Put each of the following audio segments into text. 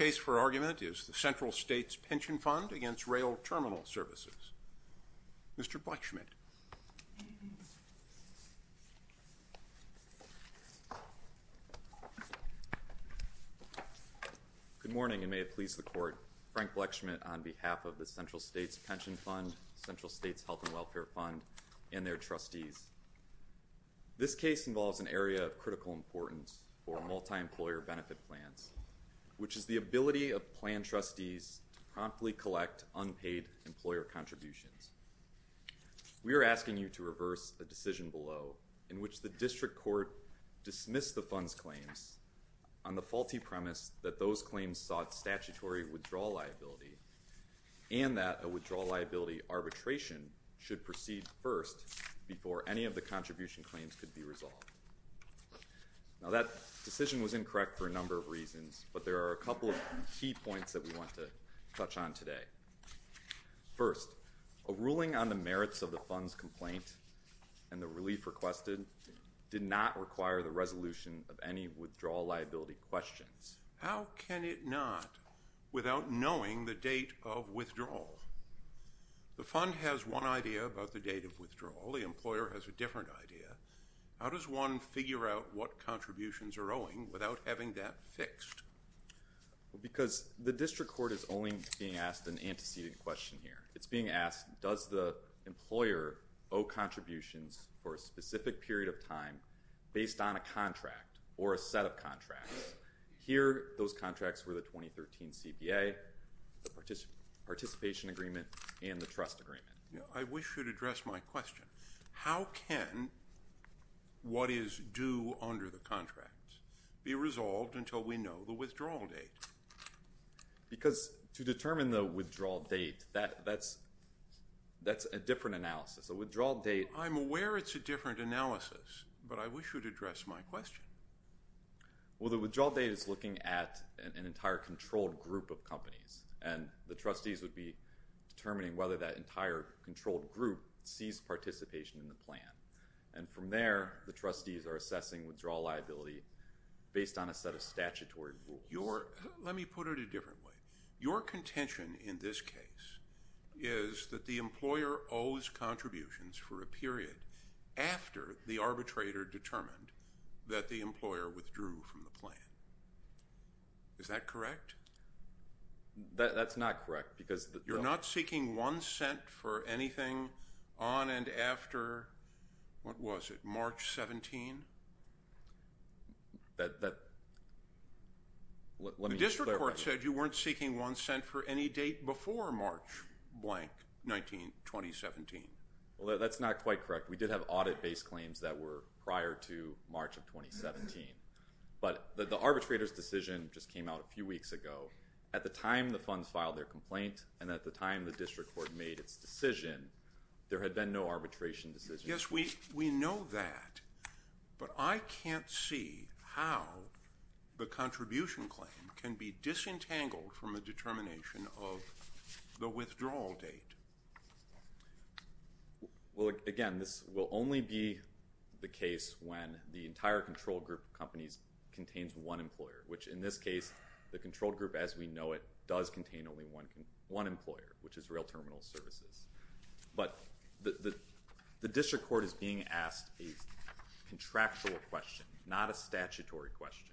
The case for argument is the Central States Pension Fund v. Rail Terminal Services. Mr. Blechschmidt Good morning, and may it please the Court. Frank Blechschmidt on behalf of the Central States Pension Fund, Central States Health & Welfare Fund, and their Trustees. This case involves an area of critical importance for multi-employer benefit plans, which is the ability of plan trustees to promptly collect unpaid employer contributions. We are asking you to reverse a decision below in which the District Court dismissed the fund's claims on the faulty premise that those claims sought statutory withdrawal liability and that a withdrawal liability arbitration should proceed first before any of the contribution claims could be resolved. Now, that decision was incorrect for a number of reasons, but there are a couple of key points that we want to touch on today. First, a ruling on the merits of the fund's complaint and the relief requested did not require the resolution of any withdrawal liability questions. How can it not without knowing the date of withdrawal? The fund has one idea about the date of withdrawal. The employer has a different idea. How does one figure out what contributions are owing without having that fixed? Because the District Court is only being asked an antecedent question here. It's being asked, does the employer owe contributions for a specific period of time based on a contract or a set of contracts? Here those contracts were the 2013 CPA, the participation agreement, and the trust agreement. I wish you'd address my question. How can what is due under the contract be resolved until we know the withdrawal date? Because to determine the withdrawal date, that's a different analysis. A withdrawal date... I'm aware it's a different analysis, but I wish you'd address my question. Well, the withdrawal date is looking at an entire controlled group of companies, and the trustees would be determining whether that entire controlled group sees participation in the plan. And from there, the trustees are assessing withdrawal liability based on a set of statutory rules. Let me put it a different way. Your contention in this case is that the employer owes contributions for a period after the arbitrator determined that the employer withdrew from the plan. Is that correct? That's not correct, because... You're not seeking one cent for anything on and after, what was it, March 17th? That... Let me... The district court said you weren't seeking one cent for any date before March blank 1917. Well, that's not quite correct. We did have audit-based claims that were prior to March of 2017, but the arbitrator's decision just came out a few weeks ago. At the time the funds filed their complaint, and at the time the district court made its decision, there had been no arbitration decision. Yes, we know that, but I can't see how the contribution claim can be disentangled from a determination of the withdrawal date. Well, again, this will only be the case when the entire controlled group of companies contains one employer, which in this case, the controlled group as we know it does contain only one employer, which is Rail Terminal Services. But the district court is being asked a contractual question, not a statutory question.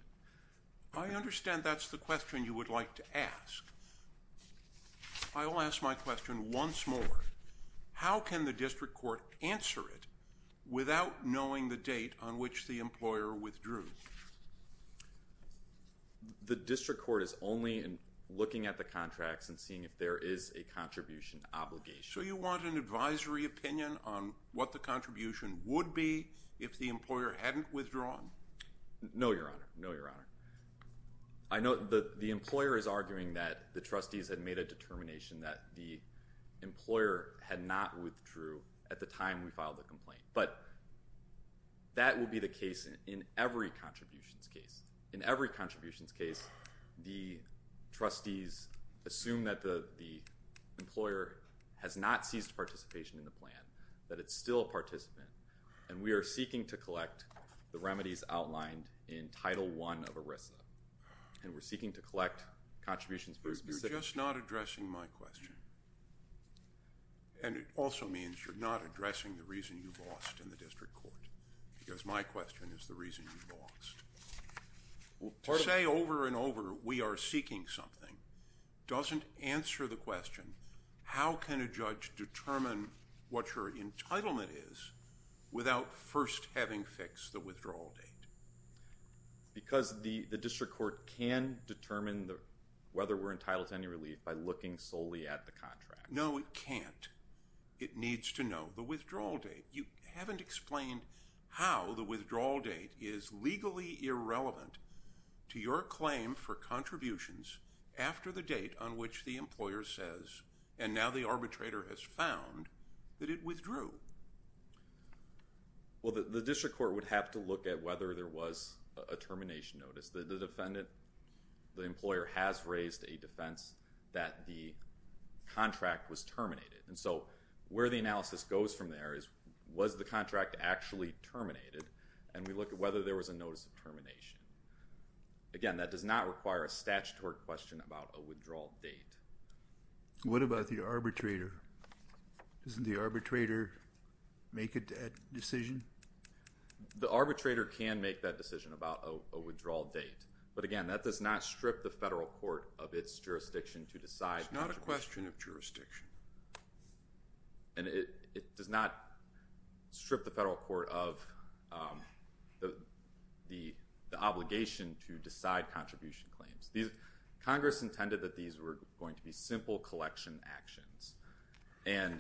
I understand that's the question you would like to ask. I will ask my question once more. How can the district court answer it without knowing the date on which the employer withdrew? The district court is only looking at the contracts and seeing if there is a contribution obligation. So you want an advisory opinion on what the contribution would be if the employer hadn't withdrawn? No, Your Honor. No, Your Honor. I know the employer is arguing that the trustees had made a determination that the employer had not withdrew at the time we filed the complaint, but that would be the case in every contributions case. In every contributions case, the trustees assume that the employer has not seized participation in the plan, that it's still a participant, and we are seeking to collect the remedies outlined in Title I of ERISA, and we're seeking to collect contributions for a specific... You're just not addressing my question. And it also means you're not addressing the reason you lost in the district court, because my question is the reason you lost. To say over and over, we are seeking something, doesn't answer the question, how can a judge determine what your entitlement is without first having fixed the withdrawal date? Because the district court can determine whether we're entitled to any relief by looking solely at the contract. No, it can't. It needs to know the withdrawal date. You haven't explained how the withdrawal date is legally irrelevant to your claim for contributions after the date on which the employer says, and now the arbitrator has found that it withdrew. Well, the district court would have to look at whether there was a termination notice. The employer has raised a defense that the contract was terminated, and so where the analysis goes from there is was the contract actually terminated, and we look at whether there was a notice of termination. Again, that does not require a statutory question about a withdrawal date. What about the arbitrator? Doesn't the arbitrator make a decision? The arbitrator can make that decision about a withdrawal date, but again, that does not strip the federal court of its jurisdiction to decide. It's not a question of jurisdiction. And it does not strip the federal court of the obligation to decide contribution claims. Congress intended that these were going to be simple collection actions, and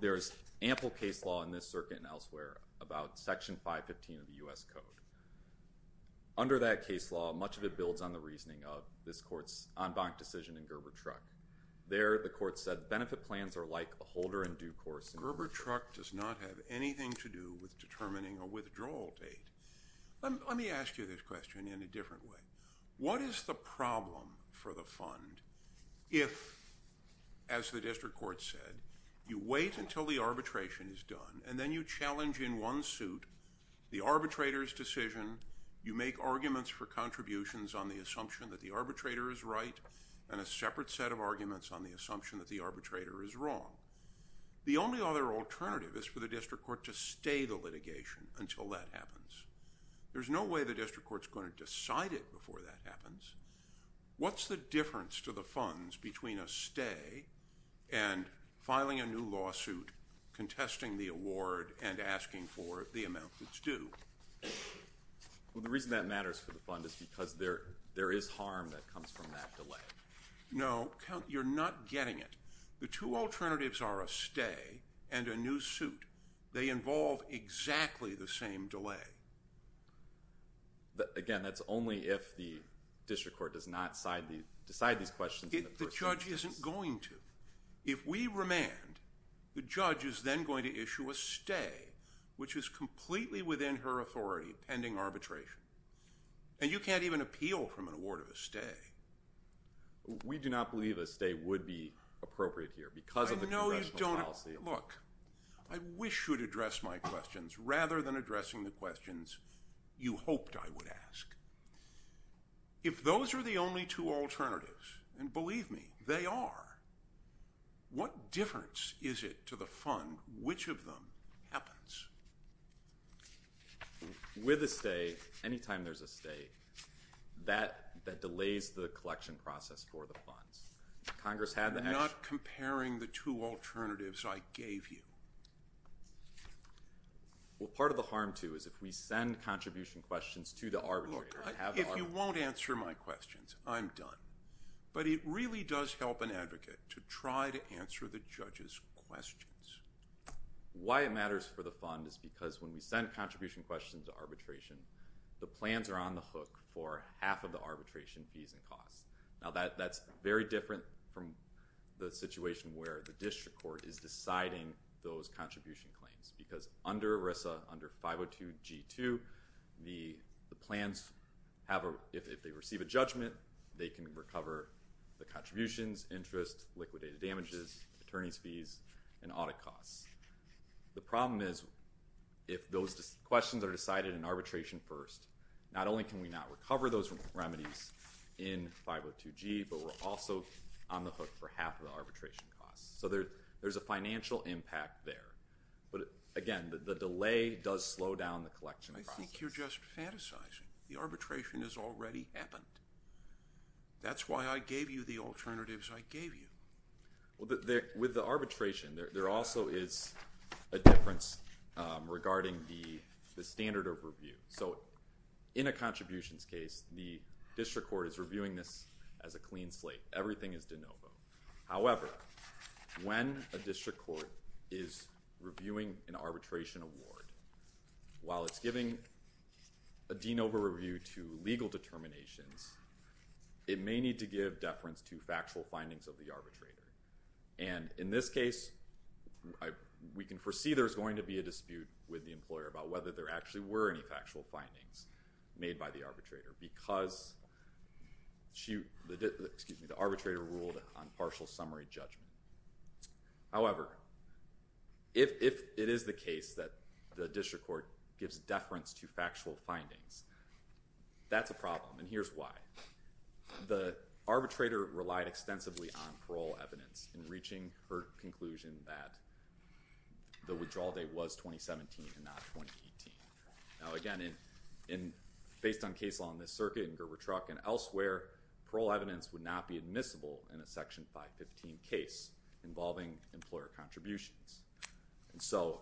there's ample case law in this circuit and elsewhere about Section 515 of the U.S. Code. Under that case law, much of it builds on the reasoning of this court's en banc decision in Gerber Truck. There, the court said, benefit plans are like a holder in due course. Gerber Truck does not have anything to do with determining a withdrawal date. Let me ask you this question in a different way. What is the problem for the fund if, as the district court said, you wait until the arbitration is done, and then you challenge in one suit the arbitrator's decision, you make arguments for contributions on the assumption that the arbitrator is right, and a separate set of arguments on the assumption that the arbitrator is wrong? The only other alternative is for the district court to stay the litigation until that happens. There's no way the district court's going to decide it before that happens. What's the difference to the funds between a stay and filing a new lawsuit, contesting the award, and asking for the amount that's due? Well, the reason that matters for the fund is because there is harm that comes from that delay. No. You're not getting it. The two alternatives are a stay and a new suit. They involve exactly the same delay. Again, that's only if the district court does not decide these questions in the first instance. The judge isn't going to. If we remand, the judge is then going to issue a stay, which is completely within her authority pending arbitration, and you can't even appeal from an award of a stay. We do not believe a stay would be appropriate here because of the congressional policy. I know you don't. Look, I wish you would address my questions rather than addressing the questions you hoped I would ask. If those are the only two alternatives, and believe me, they are, what difference is it to the fund which of them happens? With a stay, any time there's a stay, that delays the collection process for the funds. Congress had the action. You're not comparing the two alternatives I gave you. Well, part of the harm, too, is if we send contribution questions to the arbitrator. Look, if you won't answer my questions, I'm done, but it really does help an advocate to try to answer the judge's questions. Why it matters for the fund is because when we send contribution questions to arbitration, the plans are on the hook for half of the arbitration fees and costs. Now, that's very different from the situation where the district court is deciding those contribution claims because under ERISA, under 502 G2, the plans have a, if they receive a judgment, they can recover the contributions, interest, liquidated damages, attorney's fees, and audit costs. The problem is if those questions are decided in arbitration first, not only can we not have remedies in 502 G, but we're also on the hook for half of the arbitration costs. So there's a financial impact there, but again, the delay does slow down the collection process. I think you're just fantasizing. The arbitration has already happened. That's why I gave you the alternatives I gave you. With the arbitration, there also is a difference regarding the standard of review. So in a contributions case, the district court is reviewing this as a clean slate. Everything is de novo. However, when a district court is reviewing an arbitration award, while it's giving a de novo review to legal determinations, it may need to give deference to factual findings of the arbitrator. And in this case, we can foresee there's going to be a dispute with the employer about whether there actually were any factual findings made by the arbitrator because the arbitrator ruled on partial summary judgment. However, if it is the case that the district court gives deference to factual findings, that's a problem, and here's why. The arbitrator relied extensively on parole evidence in reaching her conclusion that the Now again, based on case law in this circuit, in Gerber Truck, and elsewhere, parole evidence would not be admissible in a Section 515 case involving employer contributions. So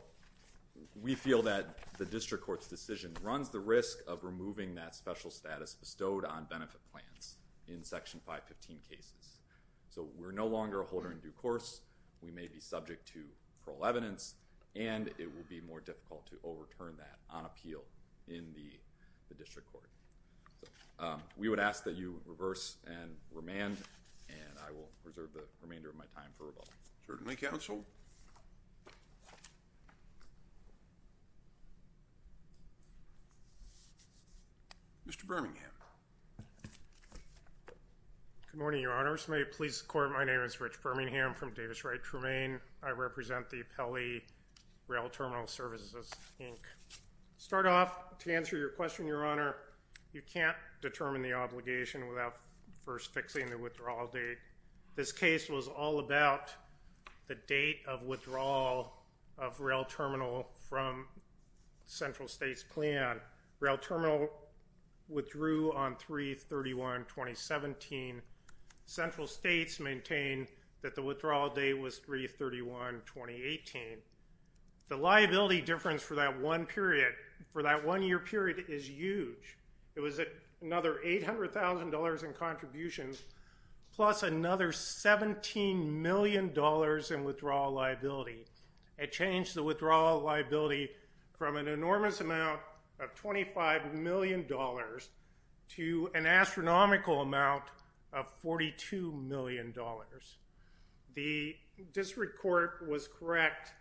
we feel that the district court's decision runs the risk of removing that special status bestowed on benefit plans in Section 515 cases. So we're no longer a holder in due course. We may be subject to parole evidence, and it will be more difficult to overturn that on appeal in the district court. We would ask that you reverse and remand, and I will reserve the remainder of my time for rebuttal. Certainly, counsel. Mr. Birmingham. Good morning, Your Honor. First, may it please the court, my name is Rich Birmingham from Davis Wright Tremaine. I represent the appellee, Rail Terminal Services, Inc. Start off, to answer your question, Your Honor, you can't determine the obligation without first fixing the withdrawal date. This case was all about the date of withdrawal of Rail Terminal from Central States Plan. Rail Terminal withdrew on 3-31-2017. Central States maintained that the withdrawal date was 3-31-2018. The liability difference for that one year period is huge. It was another $800,000 in contributions, plus another $17 million in withdrawal liability. It changed the withdrawal liability from an enormous amount of $25 million to an astronomical amount of $42 million. The district court was correct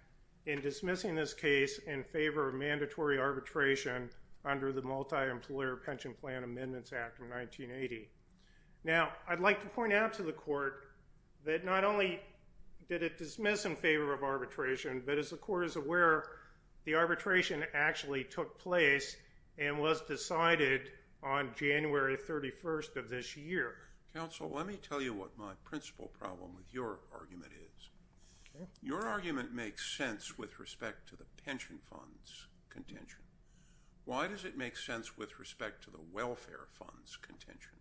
in dismissing this case in favor of mandatory arbitration under the Multi-Employer Pension Plan Amendments Act of 1980. Now, I'd like to point out to the court that not only did it dismiss in favor of arbitration, but as the court is aware, the arbitration actually took place and was decided on January 31st of this year. Counsel, let me tell you what my principal problem with your argument is. Your argument makes sense with respect to the pension fund's contention. Why does it make sense with respect to the welfare fund's contention?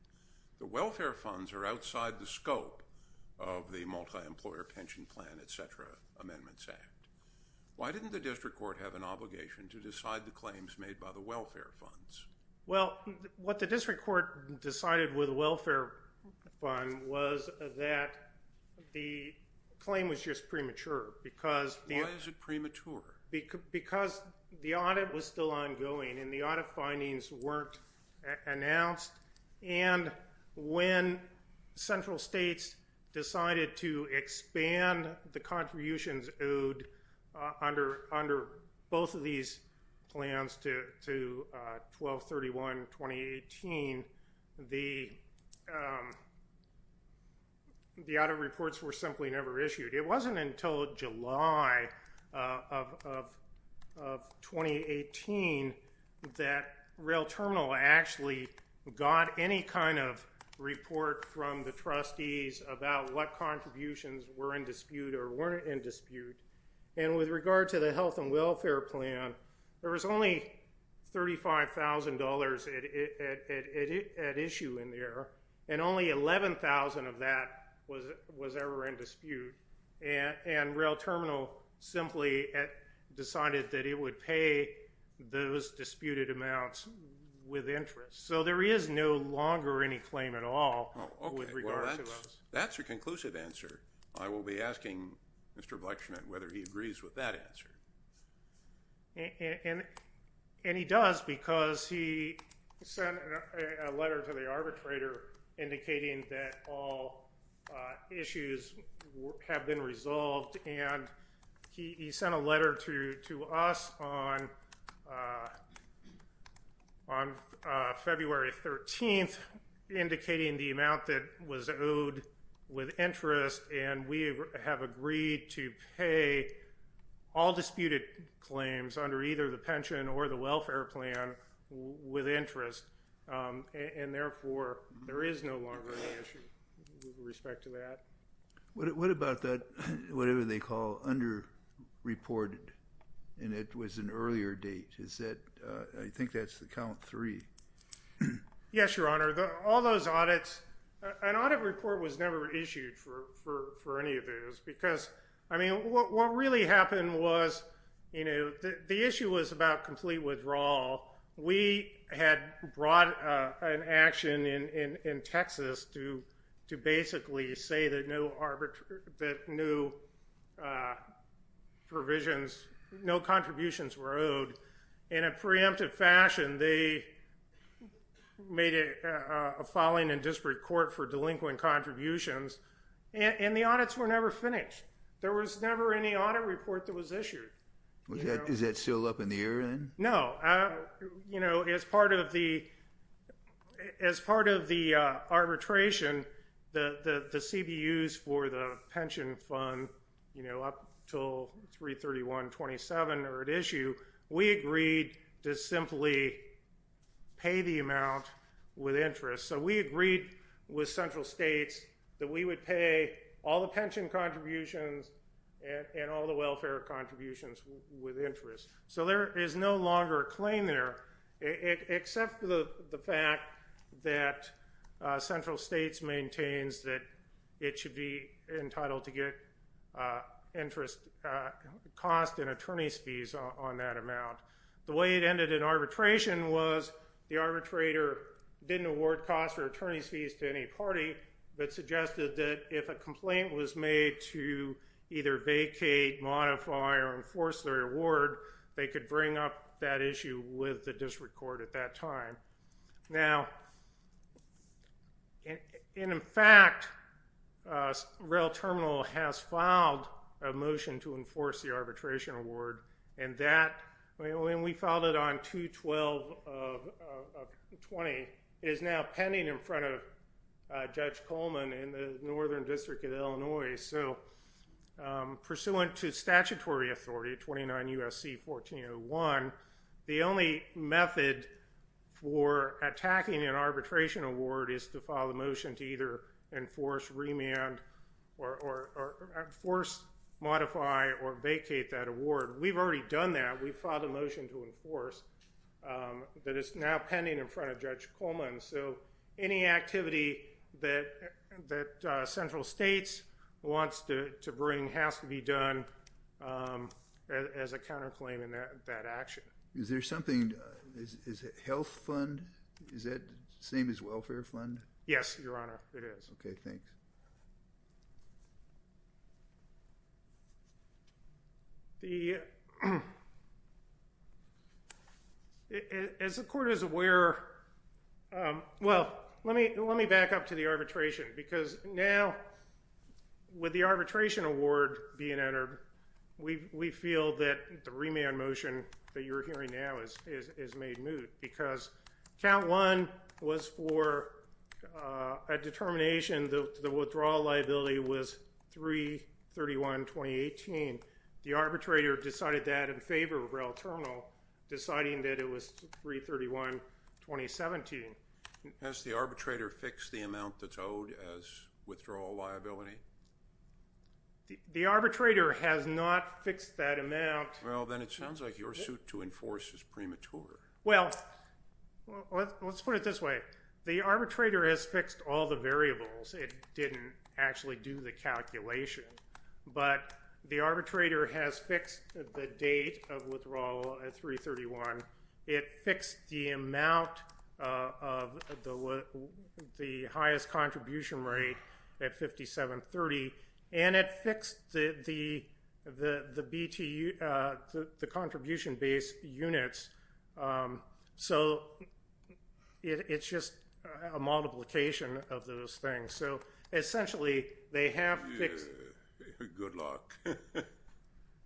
The welfare funds are outside the scope of the Multi-Employer Pension Plan, etc. Amendments Act. Why didn't the district court have an obligation to decide the claims made by the welfare funds? Well, what the district court decided with the welfare fund was that the claim was just premature. Why is it premature? Because the audit was still ongoing and the audit findings weren't announced. And when central states decided to expand the contributions owed under both of these plans to 12-31-2018, the audit reports were simply never issued. It wasn't until July of 2018 that Rail Terminal actually got any kind of report from the trustees about what contributions were in dispute or weren't in dispute. And with regard to the health and welfare plan, there was only $35,000 at issue in there and only $11,000 of that was ever in dispute. And Rail Terminal simply decided that it would pay those disputed amounts with interest. So there is no longer any claim at all with regard to us. That's a conclusive answer. I will be asking Mr. Blechner whether he agrees with that answer. And he does because he sent a letter to the arbitrator indicating that all issues have been resolved and he sent a letter to us on February 13th indicating the amount that was disputed claims under either the pension or the welfare plan with interest and therefore there is no longer any issue with respect to that. What about that, whatever they call under-reported, and it was an earlier date? Is that, I think that's the count three. Yes, Your Honor. All those audits, an audit report was never issued for any of those because, I mean, what really happened was, you know, the issue was about complete withdrawal. We had brought an action in Texas to basically say that no provisions, no contributions were owed. In a preemptive fashion, they made a falling and disparate court for delinquent contributions and the audits were never finished. There was never any audit report that was issued. Is that still up in the air then? No. You know, as part of the arbitration, the CBUs for the pension fund, you know, up until 331-27 are at issue. We agreed to simply pay the amount with interest. So we agreed with central states that we would pay all the pension contributions and all the welfare contributions with interest. So there is no longer a claim there except for the fact that central states maintains that it should be entitled to get interest cost and attorney's fees on that amount. The way it ended in arbitration was the arbitrator didn't award cost or attorney's fees to any party, but suggested that if a complaint was made to either vacate, modify, or enforce their award, they could bring up that issue with the district court at that time. Now, in fact, Rail Terminal has filed a motion to enforce the arbitration award and that, when we filed it on 2-12-20, is now pending in front of Judge Coleman in the northern district of Illinois. So pursuant to statutory authority, 29 U.S.C. 1401, the only method for attacking an arbitration award is to file a motion to either enforce, remand, or force, modify, or vacate that award. We've already done that. We filed a motion to enforce that is now pending in front of Judge Coleman. So any activity that central states wants to bring has to be done as a counterclaim in that action. Is there something, is it health fund? Is that the same as welfare fund? Yes, Your Honor, it is. Okay, thanks. As the court is aware, well, let me back up to the arbitration because now with the arbitration award being entered, we feel that the remand motion that you're hearing now is made moot because count one was for a determination that the withdrawal liability was 3-31-2018. The arbitrator decided that in favor of rail terminal, deciding that it was 3-31-2017. Has the arbitrator fixed the amount that's owed as withdrawal liability? The arbitrator has not fixed that amount. Well, then it sounds like your suit to enforce is premature. Well, let's put it this way. The arbitrator has fixed all the variables. It didn't actually do the calculation. But the arbitrator has fixed the date of withdrawal at 3-31. It fixed the amount of the highest contribution rate at 57-30. And it fixed the contribution base units. So, it's just a multiplication of those things. So, essentially, they have fixed. Good luck.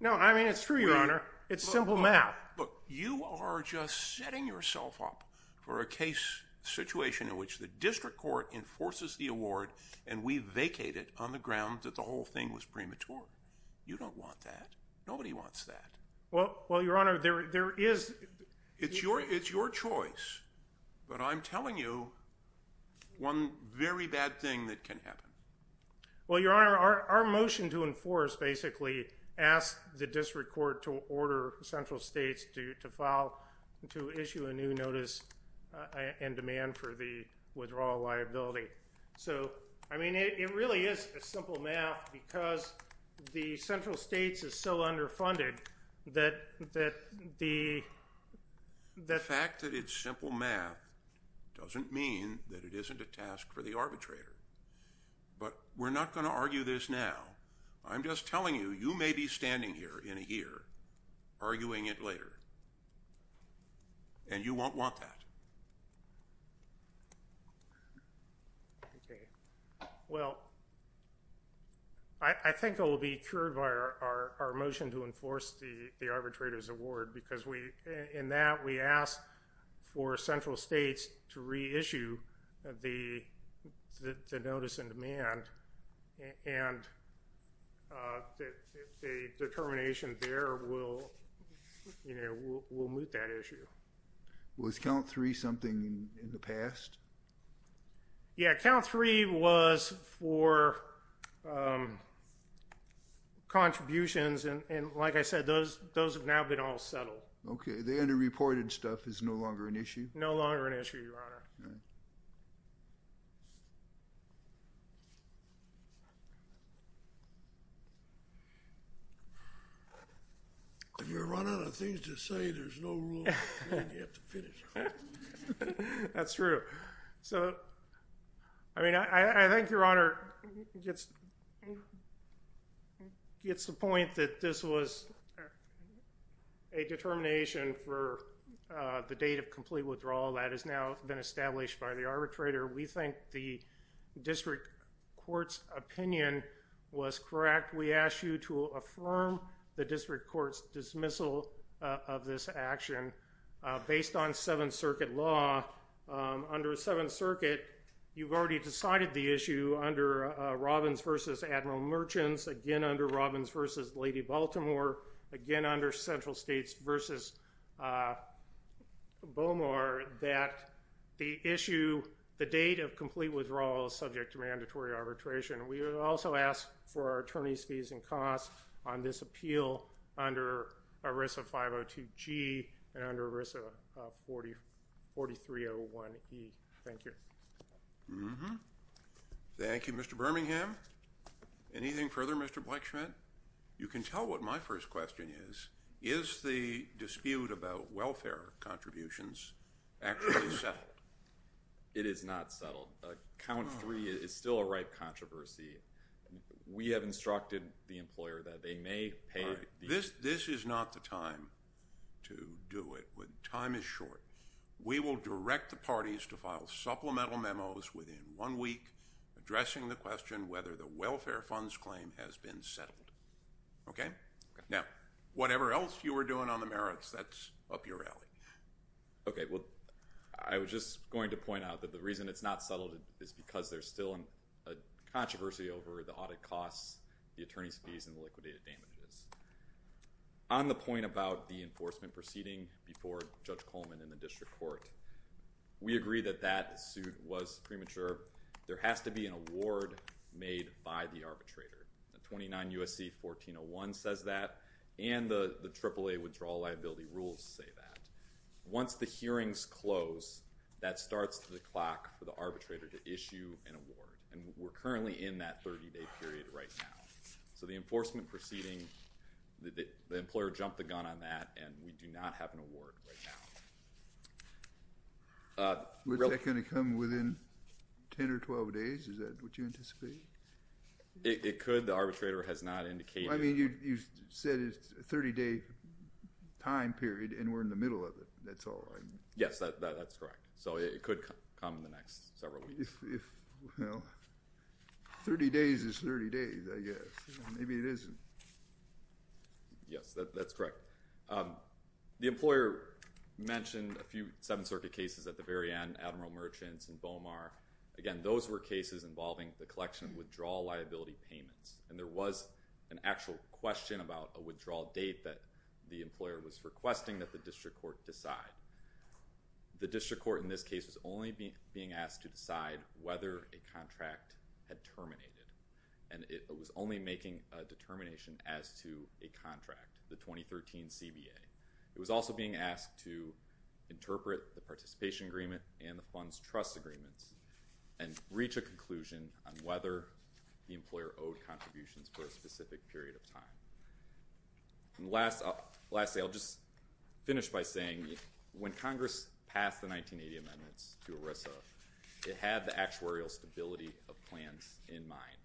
No, I mean, it's true, Your Honor. It's simple math. Look, you are just setting yourself up for a case situation in which the district court enforces the award and we vacate it on the ground that the whole thing was premature. You don't want that. Nobody wants that. Well, Your Honor, there is. It's your choice. But I'm telling you one very bad thing that can happen. Well, Your Honor, our motion to enforce basically asked the district court to order central states to file, to issue a new notice and demand for the withdrawal liability. So, I mean, it really is a simple math because the central states is so underfunded that the – The fact that it's simple math doesn't mean that it isn't a task for the arbitrator. But we're not going to argue this now. I'm just telling you, you may be standing here in a year arguing it later. And you won't want that. Okay. Well, I think it will be cured by our motion to enforce the arbitrator's award because in that we ask for central states to reissue the notice and demand and a determination there will, you know, will move that issue. Was count three something in the past? Yeah, count three was for contributions. And like I said, those have now been all settled. Okay. The underreported stuff is no longer an issue? No longer an issue, Your Honor. All right. If you're running out of things to say, there's no room. You have to finish. That's true. So, I mean, I think Your Honor gets the point that this was a determination for the date of complete withdrawal. That has now been established by the arbitrator. We think the district court's opinion was correct. We ask you to affirm the district court's dismissal of this action based on Seventh Circuit law. Under Seventh Circuit, you've already decided the issue under Robbins v. Admiral Merchants, again under Robbins v. Lady Baltimore, again under Central States v. Bomar, that the issue, the date of complete withdrawal is subject to mandatory arbitration. We also ask for our attorneys' fees and costs on this appeal under ERISA 502G and under ERISA 4301E. Thank you. Thank you, Mr. Birmingham. Anything further, Mr. Bleichschmidt? You can tell what my first question is. Is the dispute about welfare contributions actually settled? It is not settled. Count three is still a ripe controversy. We have instructed the employer that they may pay. This is not the time to do it. Time is short. We will direct the parties to file supplemental memos within one week addressing the question whether the welfare funds claim has been settled. Okay? Okay. Now, whatever else you were doing on the merits, that's up your alley. Okay. Well, I was just going to point out that the reason it's not settled is because there's still a controversy over the audit costs, the attorneys' fees, and the liquidated damages. On the point about the enforcement proceeding before Judge Coleman and the district court, we agree that that suit was premature. There has to be an award made by the arbitrator. 29 U.S.C. 1401 says that, and the AAA withdrawal liability rules say that. Once the hearings close, that starts the clock for the arbitrator to issue an award, and we're currently in that 30-day period right now. So the enforcement proceeding, the employer jumped the gun on that, and we do not have an award right now. Is that going to come within 10 or 12 days? Is that what you anticipate? It could. The arbitrator has not indicated. I mean, you said it's a 30-day time period, and we're in the middle of it. That's all, right? Yes, that's correct. So it could come in the next several weeks. Well, 30 days is 30 days, I guess. Maybe it isn't. Yes, that's correct. The employer mentioned a few Seventh Circuit cases at the very end, Admiral Merchants and Bomar. Again, those were cases involving the collection of withdrawal liability payments, and there was an actual question about a withdrawal date that the employer was requesting that the district court decide. The district court in this case was only being asked to decide whether a contract had terminated, and it was only making a determination as to a contract, the 2013 CBA. It was also being asked to interpret the participation agreement and the funds trust agreements and reach a conclusion on whether the employer owed contributions for a specific period of time. Lastly, I'll just finish by saying when Congress passed the 1980 amendments to ERISA, it had the actuarial stability of plans in mind,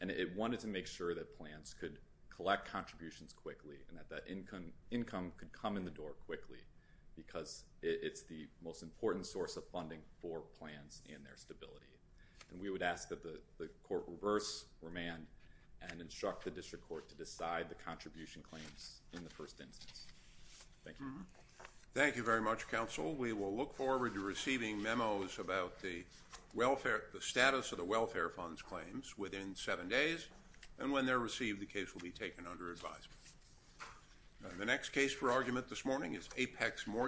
and it wanted to make sure that plans could collect contributions quickly and that that income could come in the door quickly because it's the most important source of funding for plans and their stability. We would ask that the court reverse remand and instruct the district court to decide the contribution claims in the first instance. Thank you. Thank you very much, Counsel. We will look forward to receiving memos about the status of the welfare funds claims within seven days, and when they're received, the case will be taken under advisement. The next case for argument this morning is Apex Morgan.